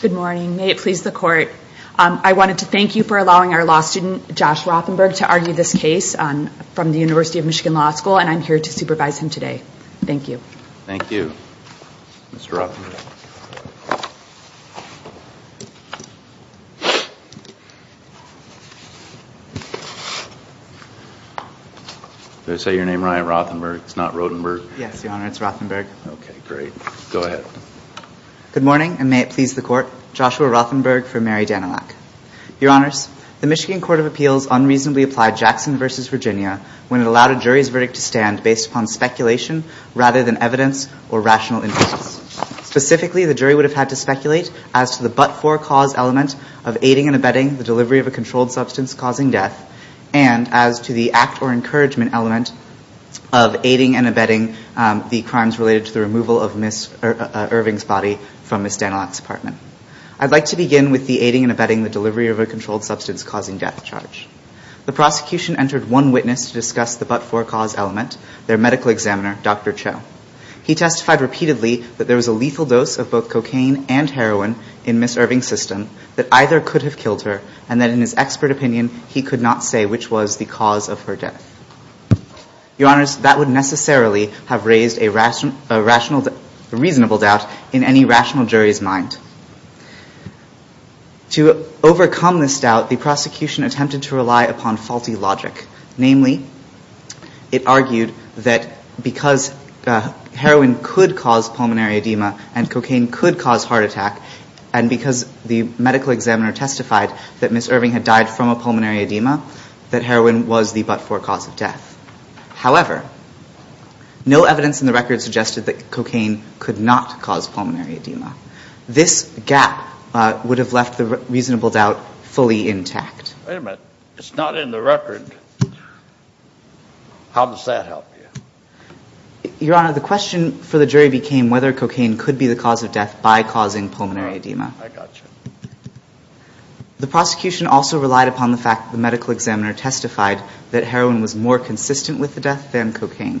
Good morning. May it please the court. I wanted to thank you for allowing our law student Josh Rothenberg to argue this case from the University of Michigan Law School and I'm here to supervise him today. Thank you. Thank you, Mr. Rothenberg. Did I say your name right, Rothenberg? It's not Rodenberg? Yes, Your Honor, it's Rothenberg. Okay, great. Go ahead. Good morning and may it please the court. Joshua Rothenberg for Mary Danielak. Your Honors, the Michigan Court of Appeals unreasonably applied Jackson v. Virginia when it allowed a jury's verdict to stand based upon speculation rather than evidence or rational inference. Specifically, the jury would have had to speculate as to the but-for cause element of aiding and abetting the delivery of a controlled substance causing death and as to the act or encouragement element of aiding and abetting the crimes related to the removal of Ms. Irving's body from Ms. Danielak's apartment. I'd like to begin with the aiding and abetting the delivery of a controlled substance causing death charge. The prosecution entered one witness to discuss the but-for cause element, their medical examiner, Dr. Cho. He testified repeatedly that there was a lethal dose of both cocaine and heroin in Ms. Irving's system that either could have killed her and that in his expert opinion, he could not say which was the cause of her death. Your Honors, that would necessarily have raised a reasonable doubt in any rational jury's mind. To overcome this doubt, the prosecution attempted to rely upon faulty logic. Namely, it argued that because heroin could cause pulmonary edema and cocaine could cause heart attack and because the medical examiner testified that Ms. Irving had died from a pulmonary edema, that heroin was the but-for cause of death. However, no evidence in the record suggested that cocaine could not cause pulmonary edema. This gap would have left the reasonable doubt fully intact. Wait a minute, it's not in the record. How does that help you? Your Honor, the question for the jury became whether cocaine could be the cause of death by causing pulmonary edema. I got you. The prosecution also relied upon the fact that the medical examiner testified that heroin was more consistent with the death than cocaine.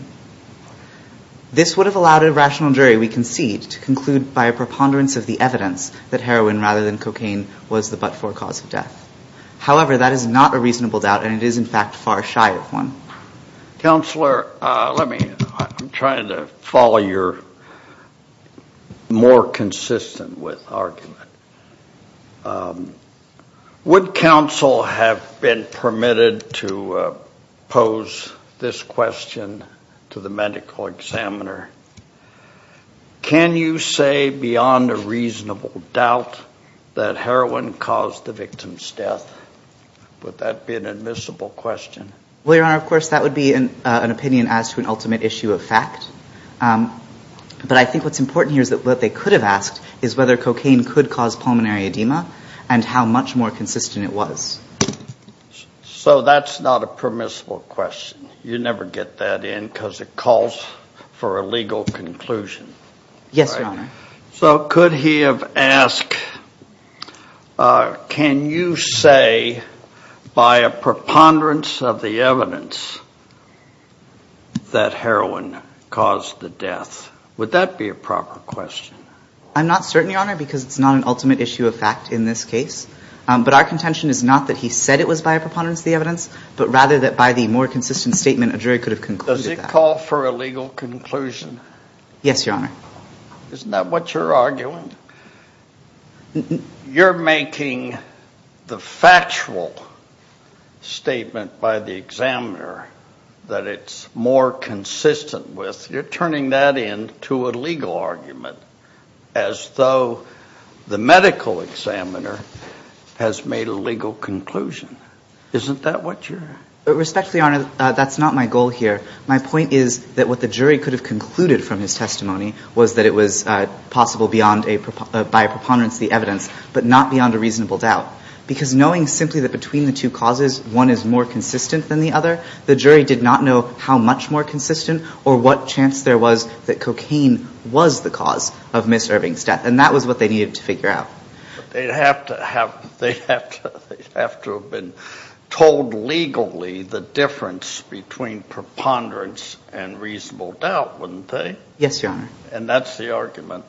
This would have allowed a rational jury, we concede, to conclude by a preponderance of the evidence that heroin rather than cocaine was the but-for cause of death. However, that is not a reasonable doubt and it is in fact far shy of one. Counselor, I'm trying to follow your more consistent with argument. Would counsel have been permitted to pose this question to the medical examiner? Can you say beyond a reasonable doubt that heroin caused the victim's death? Would that be an admissible question? Well, Your Honor, of course that would be an opinion as to an ultimate issue of fact. But I think what's important here is that what they could have asked is whether cocaine could cause pulmonary edema and how much more consistent it was. So that's not a permissible question. You never get that in because it calls for a legal conclusion. Yes, Your Honor. So could he have asked, can you say by a preponderance of the evidence that heroin caused the death? Would that be a proper question? I'm not certain, Your Honor, because it's not an ultimate issue of fact in this case. But our contention is not that he said it was by a preponderance of the evidence, but rather that by the more consistent statement, a jury could have concluded that. Does it call for a legal conclusion? Yes, Your Honor. Isn't that what you're arguing? You're making the factual statement by the examiner that it's more consistent with. You're turning that into a legal argument as though the medical examiner has made a legal conclusion. Isn't that what you're – Respectfully, Your Honor, that's not my goal here. My point is that what the jury could have concluded from his testimony was that it was possible by a preponderance of the evidence, but not beyond a reasonable doubt. Because knowing simply that between the two causes, one is more consistent than the other, the jury did not know how much more consistent or what chance there was that cocaine was the cause of Ms. Irving's death. And that was what they needed to figure out. But they'd have to have – they'd have to have been told legally the difference between preponderance and reasonable doubt, wouldn't they? Yes, Your Honor. And that's the argument.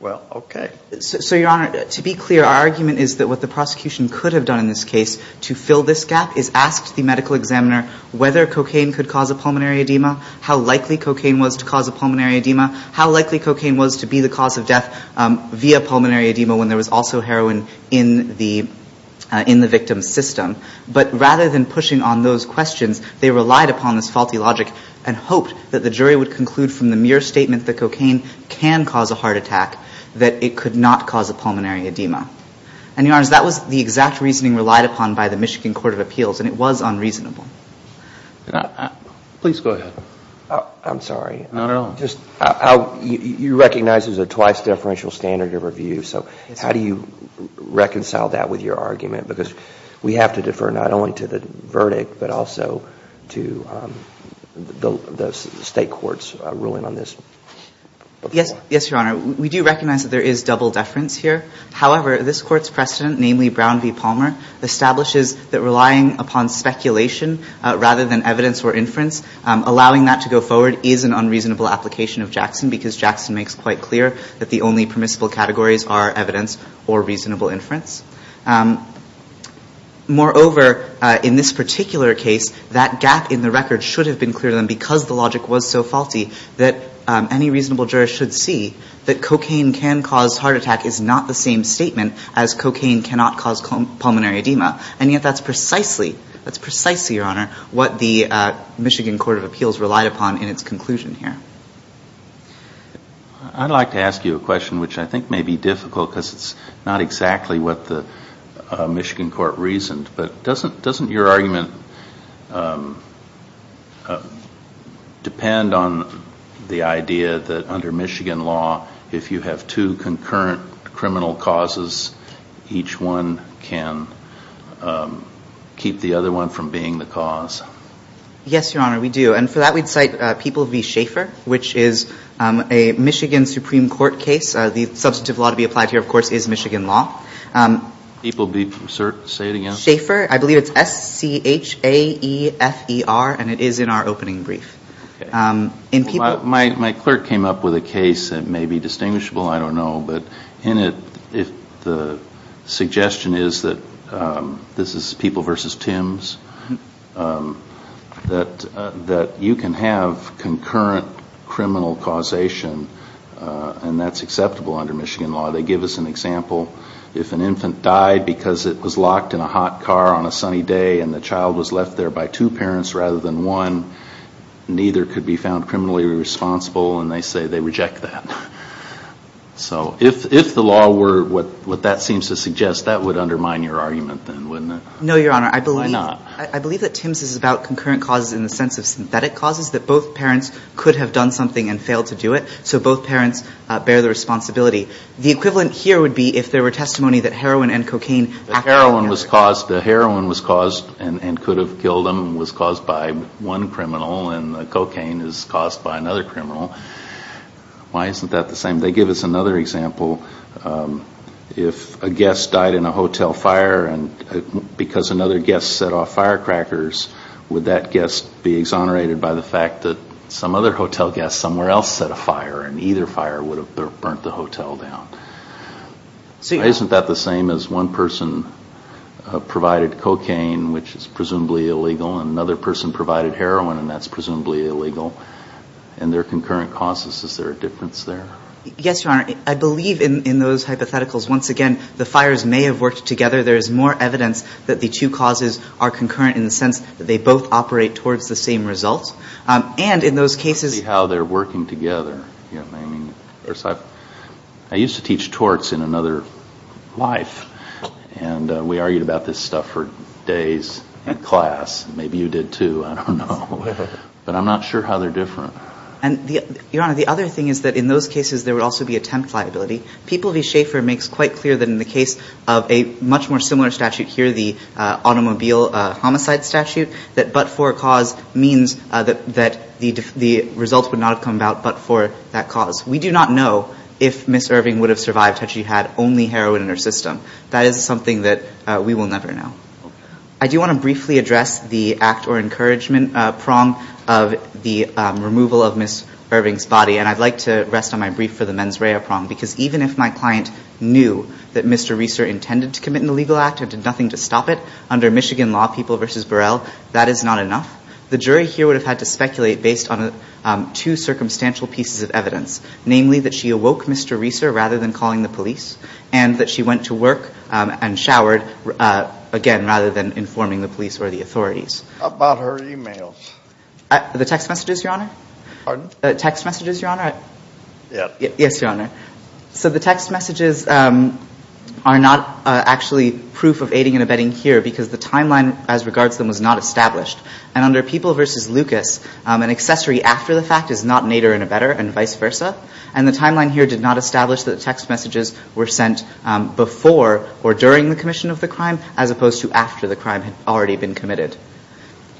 Well, okay. So, Your Honor, to be clear, our argument is that what the prosecution could have done in this case to fill this gap is asked the medical examiner whether cocaine could cause a pulmonary edema, how likely cocaine was to cause a pulmonary edema, how likely cocaine was to be the cause of death via pulmonary edema when the person died. And there was also heroin in the victim's system. But rather than pushing on those questions, they relied upon this faulty logic and hoped that the jury would conclude from the mere statement that cocaine can cause a heart attack that it could not cause a pulmonary edema. And, Your Honor, that was the exact reasoning relied upon by the Michigan Court of Appeals, and it was unreasonable. Please go ahead. I'm sorry. Not at all. You recognize there's a twice-deferential standard of review. So how do you reconcile that with your argument? Because we have to defer not only to the verdict but also to the State Court's ruling on this. Yes, Your Honor. We do recognize that there is double deference here. However, this Court's precedent, namely Brown v. Palmer, establishes that relying upon speculation rather than evidence or inference, allowing that to go forward is an unreasonable application of Jackson because Jackson makes quite clear that the only permissible categories are evidence or reasonable inference. Moreover, in this particular case, that gap in the record should have been clear to them because the logic was so faulty that any reasonable juror should see that cocaine can cause heart attack is not the same statement as cocaine cannot cause pulmonary edema. And yet that's precisely, that's precisely, Your Honor, what the Michigan Court of Appeals relied upon in its conclusion here. I'd like to ask you a question which I think may be difficult because it's not exactly what the Michigan Court reasoned. But doesn't your argument depend on the idea that under Michigan law, if you have two concurrent criminal causes, each one can keep the other one from being the cause? Yes, Your Honor, we do. And for that, we'd cite People v. Schaefer, which is a Michigan Supreme Court case. The substantive law to be applied here, of course, is Michigan law. People v. Schaefer? Say it again? Schaefer. I believe it's S-C-H-A-E-F-E-R. And it is in our opening brief. My clerk came up with a case that may be distinguishable. I don't know. But in it, the suggestion is that this is People v. Tims, that you can have concurrent criminal causation, and that's acceptable under Michigan law. They give us an example. If an infant died because it was locked in a hot car on a sunny day and the child was left there by two parents rather than one, neither could be found criminally responsible. And they say they reject that. So if the law were what that seems to suggest, that would undermine your argument then, wouldn't it? No, Your Honor. Why not? I believe that Tims is about concurrent causes in the sense of synthetic causes, that both parents could have done something and failed to do it. So both parents bear the responsibility. The equivalent here would be if there were testimony that heroin and cocaine acted on the child. The heroin was caused and could have killed them, was caused by one criminal, and the cocaine is caused by another criminal. Why isn't that the same? They give us another example. If a guest died in a hotel fire because another guest set off firecrackers, would that guest be exonerated by the fact that some other hotel guest somewhere else set a fire, and either fire would have burnt the hotel down? Why isn't that the same as one person provided cocaine, which is presumably illegal, and another person provided heroin, and that's presumably illegal? And they're concurrent causes. Is there a difference there? Yes, Your Honor. I believe in those hypotheticals. Once again, the fires may have worked together. There is more evidence that the two causes are concurrent in the sense that they both operate towards the same result. And in those cases — I don't see how they're working together. I mean, I used to teach torts in another life, and we argued about this stuff for days in class. Maybe you did, too. I don't know. But I'm not sure how they're different. Your Honor, the other thing is that in those cases there would also be attempt liability. People v. Schaefer makes quite clear that in the case of a much more similar statute here, the automobile homicide statute, that but for a cause means that the results would not have come about but for that cause. We do not know if Ms. Irving would have survived had she had only heroin in her system. That is something that we will never know. I do want to briefly address the act or encouragement prong of the removal of Ms. Irving's body. And I'd like to rest on my brief for the mens rea prong because even if my client knew that Mr. Reeser intended to commit an illegal act and did nothing to stop it under Michigan law, people v. Burrell, that is not enough. The jury here would have had to speculate based on two circumstantial pieces of evidence, namely that she awoke Mr. Reeser rather than calling the police and that she went to work and showered again rather than informing the police or the authorities. How about her e-mails? The text messages, Your Honor? Pardon? Text messages, Your Honor? Yes. Yes, Your Honor. So the text messages are not actually proof of aiding and abetting here because the timeline as regards them was not established. And under People v. Lucas, an accessory after the fact is not an aider and abetter and vice versa. And the timeline here did not establish that the text messages were sent before or during the commission of the crime as opposed to after the crime had already been committed.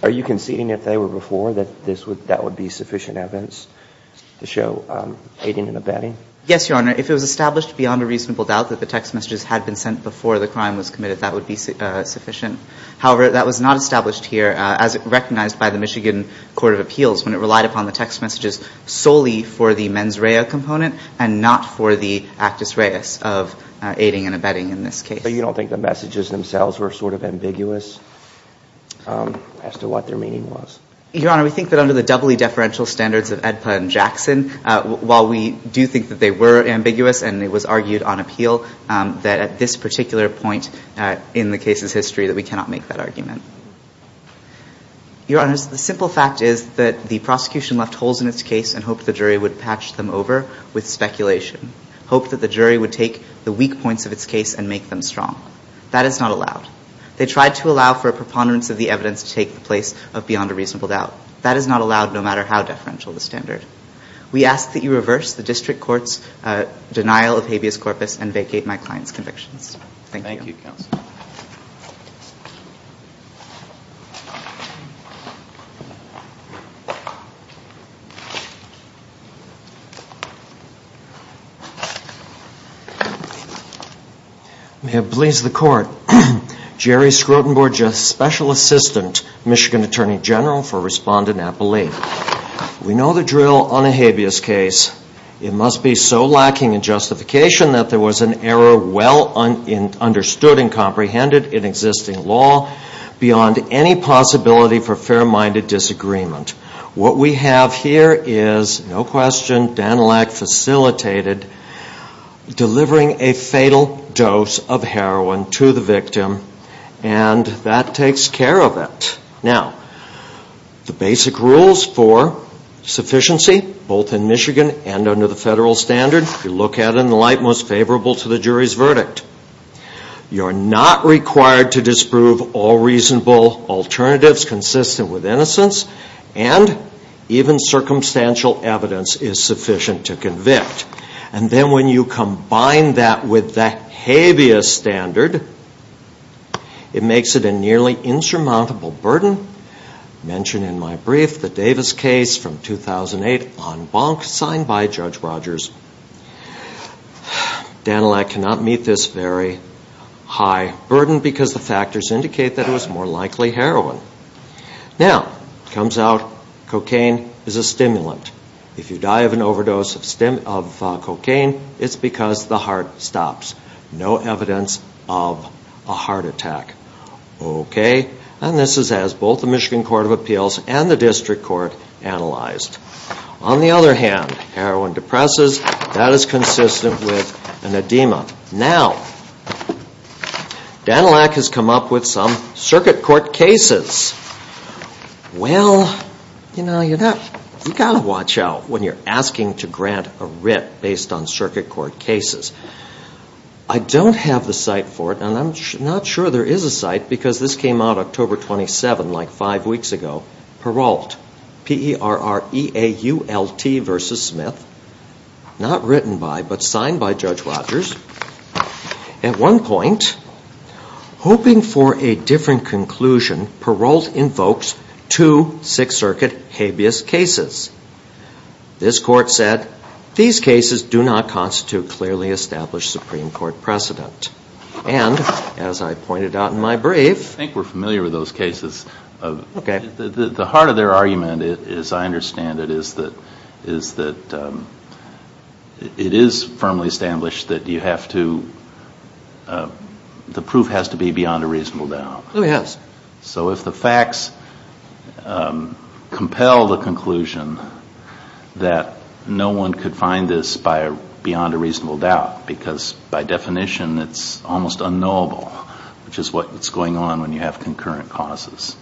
Are you conceding if they were before that that would be sufficient evidence to show aiding and abetting? Yes, Your Honor. If it was established beyond a reasonable doubt that the text messages had been sent before the crime was committed, that would be sufficient. However, that was not established here as recognized by the Michigan Court of Appeals when it relied upon the text messages solely for the mens rea component and not for the actus reus of aiding and abetting in this case. So you don't think the messages themselves were sort of ambiguous as to what their meaning was? Your Honor, we think that under the doubly deferential standards of AEDPA and Jackson, while we do think that they were ambiguous and it was argued on appeal, that at this particular point in the case's history that we cannot make that argument. Your Honor, the simple fact is that the prosecution left holes in its case and hoped the jury would patch them over with speculation, hoped that the jury would take the weak points of its case and make them strong. That is not allowed. They tried to allow for a preponderance of the evidence to take the place of beyond a reasonable doubt. That is not allowed no matter how deferential the standard. We ask that you reverse the district court's denial of habeas corpus and vacate my client's convictions. Thank you. Thank you, counsel. May it please the court. Jerry Skrodenborg, special assistant Michigan Attorney General for Respondent Appellate. We know the drill on a habeas case. It must be so lacking in justification that there was an error well understood and comprehended in existing law beyond any possibility for fair-minded disagreement. What we have here is, no question, Danilak facilitated delivering a fatal dose of heroin to the victim and that takes care of it. Now, the basic rules for sufficiency, both in Michigan and under the federal standard, you look at in the light most favorable to the jury's verdict. You are not required to disprove all reasonable alternatives consistent with innocence and even circumstantial evidence is sufficient to convict. And then when you combine that with the habeas standard, it makes it a nearly insurmountable burden. I mentioned in my brief the Davis case from 2008 on Bonk signed by Judge Rogers. Danilak cannot meet this very high burden because the factors indicate that it was more likely heroin. Now, it comes out cocaine is a stimulant. If you die of an overdose of cocaine, it's because the heart stops. No evidence of a heart attack. Okay, and this is as both the Michigan Court of Appeals and the District Court analyzed. On the other hand, heroin depresses, that is consistent with an edema. Now, Danilak has come up with some circuit court cases. Well, you know, you've got to watch out when you're asking to grant a writ based on circuit court cases. I don't have the site for it, and I'm not sure there is a site, because this came out October 27, like five weeks ago. Peralt, P-E-R-A-L-T versus Smith. Not written by, but signed by Judge Rogers. At one point, hoping for a different conclusion, Peralt invokes two Sixth Circuit habeas cases. This court said, these cases do not constitute clearly established Supreme Court precedent. And, as I pointed out in my brief. I think we're familiar with those cases. Okay. The heart of their argument, as I understand it, is that it is firmly established that you have to, the proof has to be beyond a reasonable doubt. Oh, yes. So if the facts compel the conclusion that no one could find this beyond a reasonable doubt. Because, by definition, it's almost unknowable, which is what's going on when you have concurrent causes.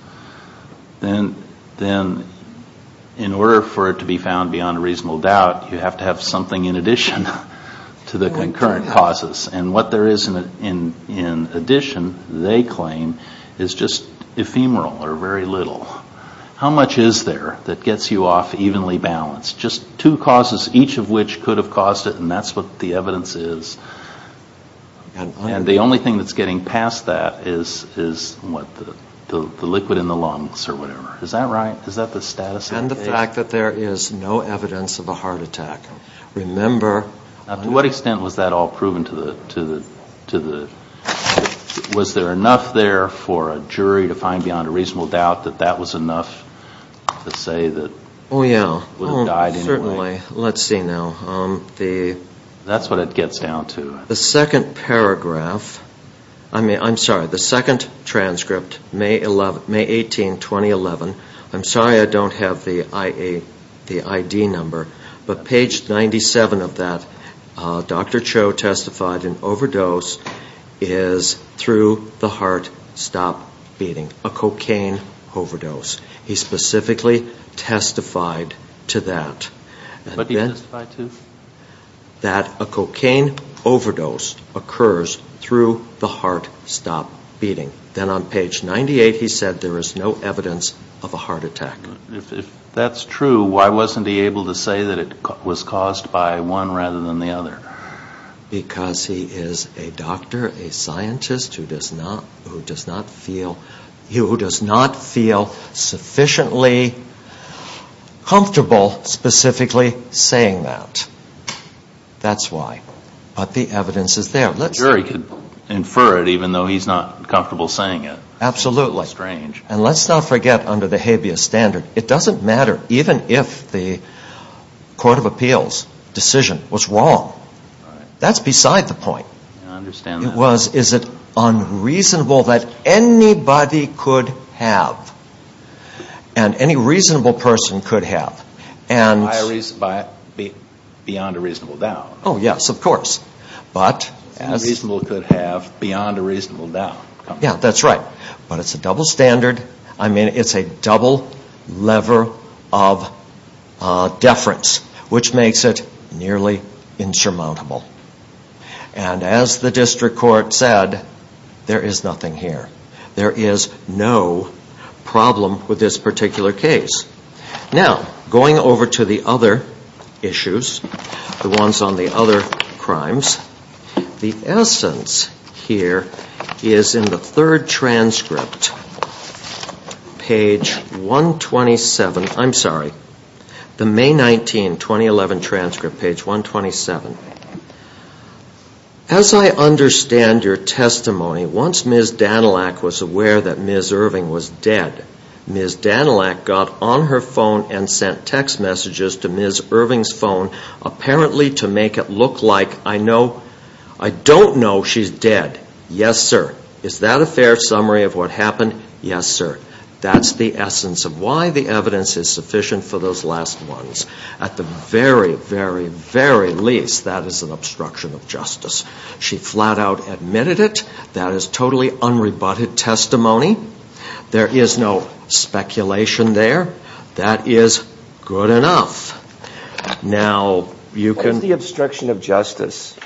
Then, in order for it to be found beyond a reasonable doubt, you have to have something in addition to the concurrent causes. And what there is in addition, they claim, is just ephemeral, or very little. How much is there that gets you off evenly balanced? It's just two causes, each of which could have caused it. And that's what the evidence is. And the only thing that's getting past that is, what, the liquid in the lungs, or whatever. Is that right? Is that the status of the case? And the fact that there is no evidence of a heart attack. Remember. Now, to what extent was that all proven to the, was there enough there for a jury to find beyond a reasonable doubt that that was enough to say that. Oh yeah. Certainly. Let's see now. That's what it gets down to. The second paragraph. I'm sorry. The second transcript, May 18, 2011. I'm sorry I don't have the ID number. But page 97 of that, Dr. Cho testified an overdose is, through the heart, stop beating. A cocaine overdose. He specifically testified to that. What did he testify to? That a cocaine overdose occurs through the heart stop beating. Then on page 98 he said there is no evidence of a heart attack. If that's true, why wasn't he able to say that it was caused by one rather than the other? Because he is a doctor, a scientist who does not feel sufficiently comfortable specifically saying that. That's why. But the evidence is there. The jury could infer it even though he's not comfortable saying it. Absolutely. That's strange. And let's not forget under the habeas standard, it doesn't matter even if the court of appeals decision was wrong. That's beside the point. I understand that. It was, is it unreasonable that anybody could have and any reasonable person could have. Beyond a reasonable doubt. Oh yes, of course. Reasonable could have beyond a reasonable doubt. Yeah, that's right. But it's a double standard, I mean it's a double lever of deference. Which makes it nearly insurmountable. And as the district court said, there is nothing here. There is no problem with this particular case. Now, going over to the other issues, the ones on the other crimes. The essence here is in the third transcript. Page 127, I'm sorry. The May 19, 2011 transcript, page 127. As I understand your testimony, once Ms. Danilak was aware that Ms. Irving was dead, Ms. Danilak got on her phone and sent text messages to Ms. Irving's phone, apparently to make it look like, I know, I don't know she's dead. Yes, sir. Is that a fair summary of what happened? Yes, sir. That's the essence of why the evidence is sufficient for those last ones. At the very, very, very least, that is an obstruction of justice. She flat out admitted it. That is totally unrebutted testimony. There is no speculation there. That is good enough. Now, you can... What is the obstruction of justice?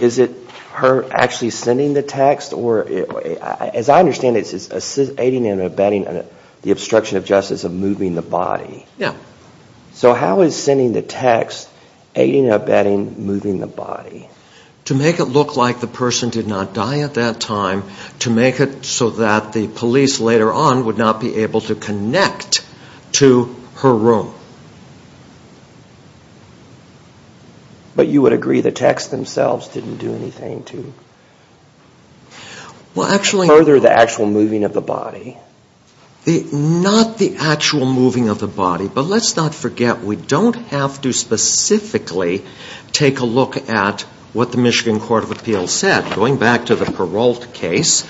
Is it her actually sending the text? As I understand it, it's aiding and abetting the obstruction of justice of moving the body. Yes. To make it look like the person did not die at that time, to make it so that the police later on would not be able to connect to her room. But you would agree the texts themselves didn't do anything to... Well, actually... ...further the actual moving of the body. Not the actual moving of the body, but let's not forget, we don't have to specifically take a look at what the Michigan Court of Appeals said. Going back to the Peralt case,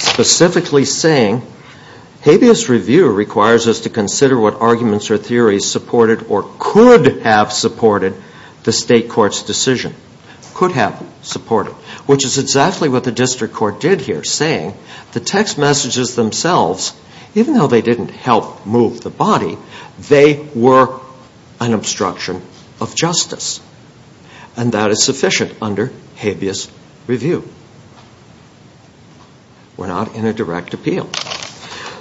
specifically saying, habeas review requires us to consider what arguments or theories supported or could have supported the state court's decision. Could have supported. Which is exactly what the district court did here, saying the text messages themselves, even though they didn't help move the body, they were an obstruction of justice. And that is sufficient under habeas review. We're not in a direct appeal.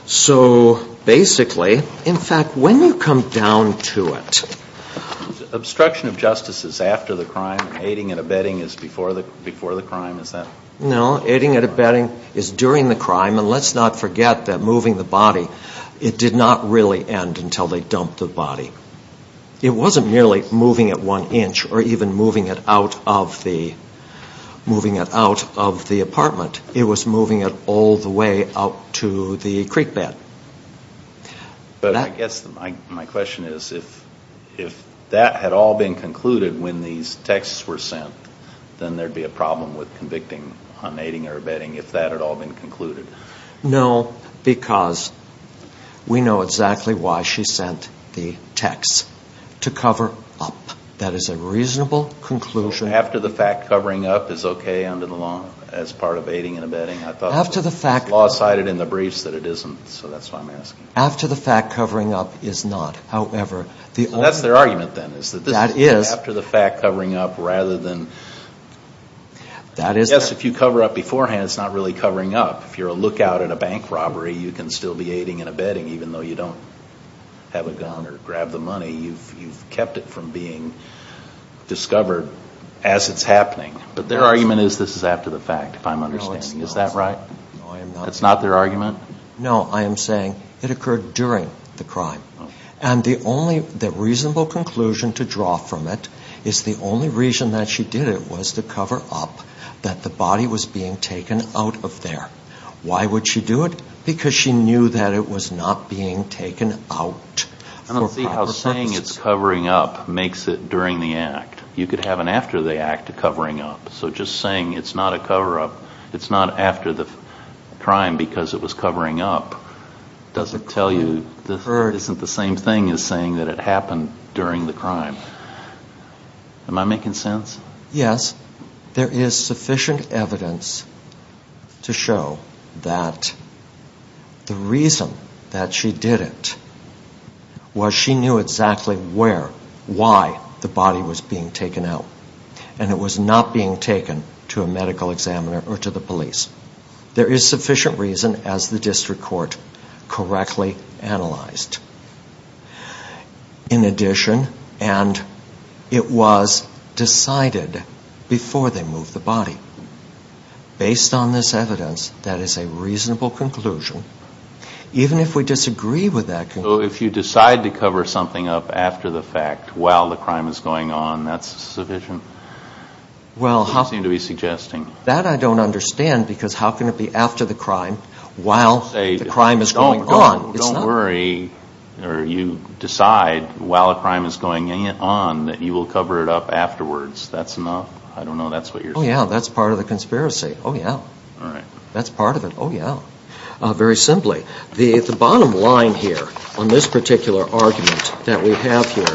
So, basically, in fact, when you come down to it... Obstruction of justice is after the crime, aiding and abetting is before the crime, is that... No, aiding and abetting is during the crime, and let's not forget that moving the body, it did not really end until they dumped the body. It wasn't merely moving it one inch, or even moving it out of the apartment. It was moving it all the way out to the creek bed. But I guess my question is, if that had all been concluded when these texts were sent, then there'd be a problem with convicting on aiding or abetting if that had all been concluded. No, because we know exactly why she sent the texts. To cover up. That is a reasonable conclusion. So, after the fact, covering up is okay under the law as part of aiding and abetting? I thought the law cited in the briefs that it isn't, so that's why I'm asking. After the fact, covering up is not. However, the only... That's their argument, then, is that this is after the fact, covering up, rather than... Yes, if you cover up beforehand, it's not really covering up. If you're a lookout at a bank robbery, you can still be aiding and abetting, even though you don't have a gun or grab the money. You've kept it from being discovered as it's happening. But their argument is this is after the fact, if I'm understanding. Is that right? No, I am not. That's not their argument? No, I am saying it occurred during the crime. And the only reasonable conclusion to draw from it is the only reason that she did it was to cover up that the body was being taken out of there. Why would she do it? Because she knew that it was not being taken out for proper purposes. I don't see how saying it's covering up makes it during the act. You could have an after the act of covering up. So just saying it's not a cover-up, it's not after the crime because it was covering up, doesn't tell you, isn't the same thing as saying that it happened during the crime. Am I making sense? Yes. There is sufficient evidence to show that the reason that she did it was she knew exactly where, why the body was being taken out. And it was not being taken to a medical examiner or to the police. There is sufficient reason, as the district court correctly analyzed. In addition, and it was decided before they moved the body. Based on this evidence, that is a reasonable conclusion. Even if we disagree with that conclusion. So if you decide to cover something up after the fact, while the crime is going on, that's sufficient? That's what you seem to be suggesting. That I don't understand because how can it be after the crime, while the crime is going on? Don't worry, or you decide while the crime is going on, that you will cover it up afterwards. That's enough? I don't know, that's what you're saying. Oh yeah, that's part of the conspiracy. Oh yeah. All right. That's part of it. Oh yeah. Very simply, the bottom line here on this particular argument that we have here,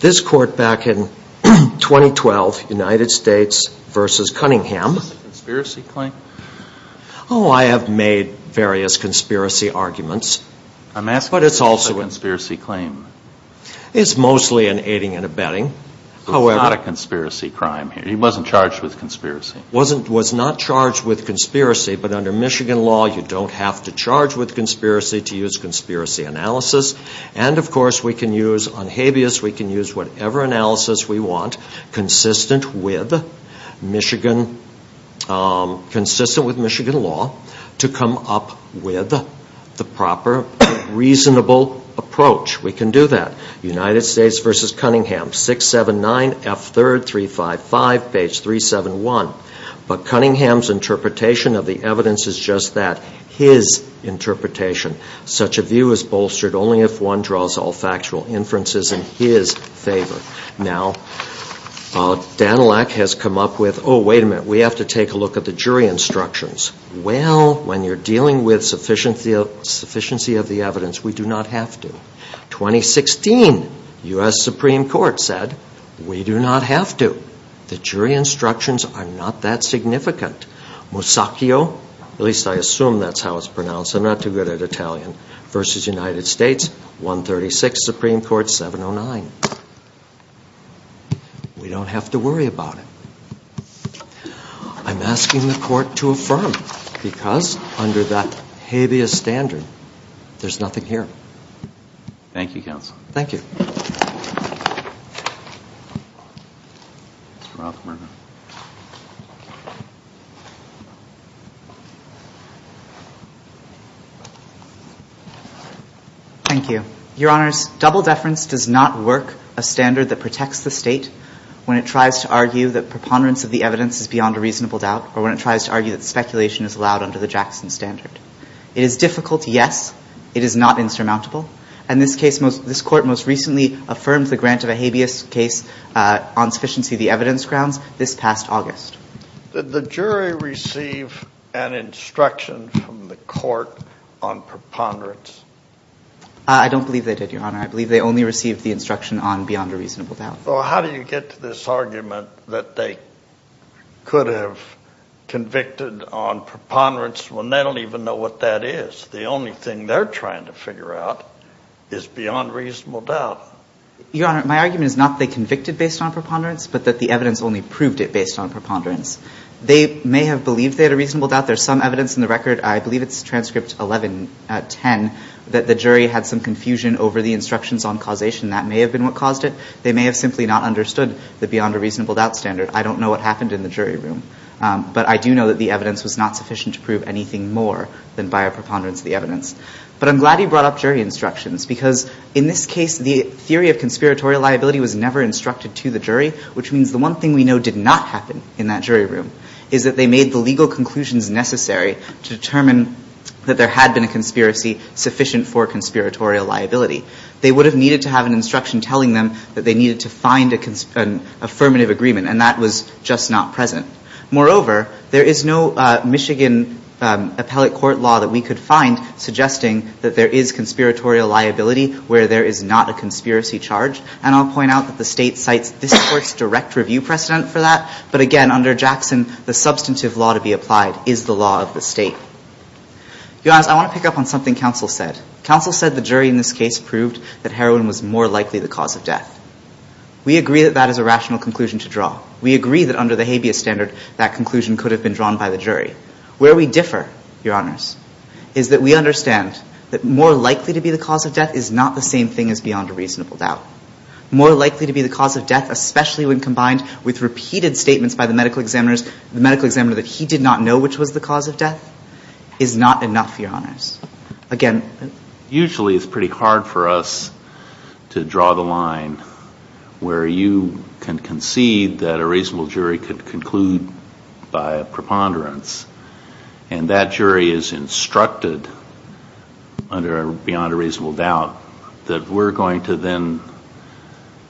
this court back in 2012, United States versus Cunningham. Is this a conspiracy claim? Oh, I have made various conspiracy arguments. I'm asking if it's a conspiracy claim. It's mostly an aiding and abetting. It's not a conspiracy crime here. He wasn't charged with conspiracy. He was not charged with conspiracy, but under Michigan law, you don't have to charge with conspiracy to use conspiracy analysis. And, of course, we can use on habeas, we can use whatever analysis we want, consistent with Michigan law, to come up with the proper, reasonable approach. We can do that. United States versus Cunningham, 679F3355, page 371. But Cunningham's interpretation of the evidence is just that, his interpretation. Such a view is bolstered only if one draws all factual inferences in his favor. Now, Danilak has come up with, oh, wait a minute, we have to take a look at the jury instructions. Well, when you're dealing with sufficiency of the evidence, we do not have to. 2016, U.S. Supreme Court said, we do not have to. The jury instructions are not that significant. Musacchio, at least I assume that's how it's pronounced, I'm not too good at Italian, versus United States, 136, Supreme Court, 709. We don't have to worry about it. I'm asking the court to affirm, because under that habeas standard, there's nothing here. Thank you, counsel. Thank you. Mr. Rothberg. Thank you. Your Honors, double deference does not work a standard that protects the state when it tries to argue that preponderance of the evidence is beyond a reasonable doubt, or when it tries to argue that speculation is allowed under the Jackson standard. It is difficult, yes. It is not insurmountable. And this court most recently affirmed the grant of a habeas case on sufficiency of the evidence grounds this past August. Did the jury receive an instruction from the court on preponderance? I don't believe they did, Your Honor. I believe they only received the instruction on beyond a reasonable doubt. Well, how do you get to this argument that they could have convicted on preponderance when they don't even know what that is? The only thing they're trying to figure out is beyond reasonable doubt. Your Honor, my argument is not that they convicted based on preponderance, but that the evidence only proved it based on preponderance. They may have believed they had a reasonable doubt. There's some evidence in the record, I believe it's transcript 1110, that the jury had some confusion over the instructions on causation. That may have been what caused it. They may have simply not understood the beyond a reasonable doubt standard. I don't know what happened in the jury room. But I do know that the evidence was not sufficient to prove anything more than by a preponderance of the evidence. But I'm glad you brought up jury instructions, because in this case, the theory of conspiratorial liability was never instructed to the jury, which means the one thing we know did not happen in that jury room is that they made the legal conclusions necessary to determine that there had been a conspiracy sufficient for conspiratorial liability. They would have needed to have an instruction telling them that they needed to find an affirmative agreement, and that was just not present. Moreover, there is no Michigan appellate court law that we could find suggesting that there is conspiratorial liability where there is not a conspiracy charge. And I'll point out that the state cites this court's direct review precedent for that. But again, under Jackson, the substantive law to be applied is the law of the state. Your Honor, I want to pick up on something counsel said. Counsel said the jury in this case proved that heroin was more likely the cause of death. We agree that that is a rational conclusion to draw. We agree that under the habeas standard, that conclusion could have been drawn by the jury. Where we differ, Your Honors, is that we understand that more likely to be the cause of death is not the same thing as beyond a reasonable doubt. More likely to be the cause of death, especially when combined with repeated statements by the medical examiners, the medical examiner that he did not know which was the cause of death, is not enough, Your Honors. Again, usually it's pretty hard for us to draw the line where you can concede that a reasonable jury could conclude by a preponderance. And that jury is instructed under beyond a reasonable doubt that we're going to then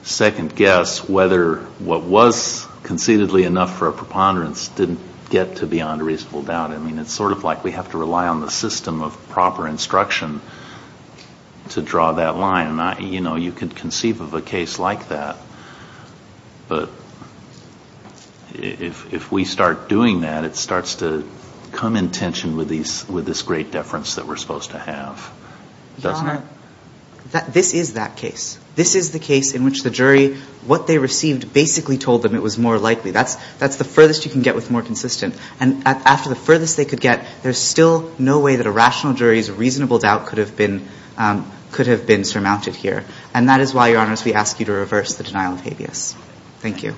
second guess whether what was conceitedly enough for a preponderance didn't get to beyond a reasonable doubt. I mean, it's sort of like we have to rely on the system of proper instruction to draw that line. You know, you could conceive of a case like that. But if we start doing that, it starts to come in tension with this great deference that we're supposed to have, doesn't it? Your Honor, this is that case. This is the case in which the jury, what they received basically told them it was more likely. That's the furthest you can get with more consistent. And after the furthest they could get, there's still no way that a rational jury's reasonable doubt could have been surmounted here. And that is why, Your Honors, we ask you to reverse the denial of habeas. Thank you.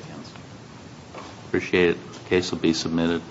Appreciate it. The case will be submitted.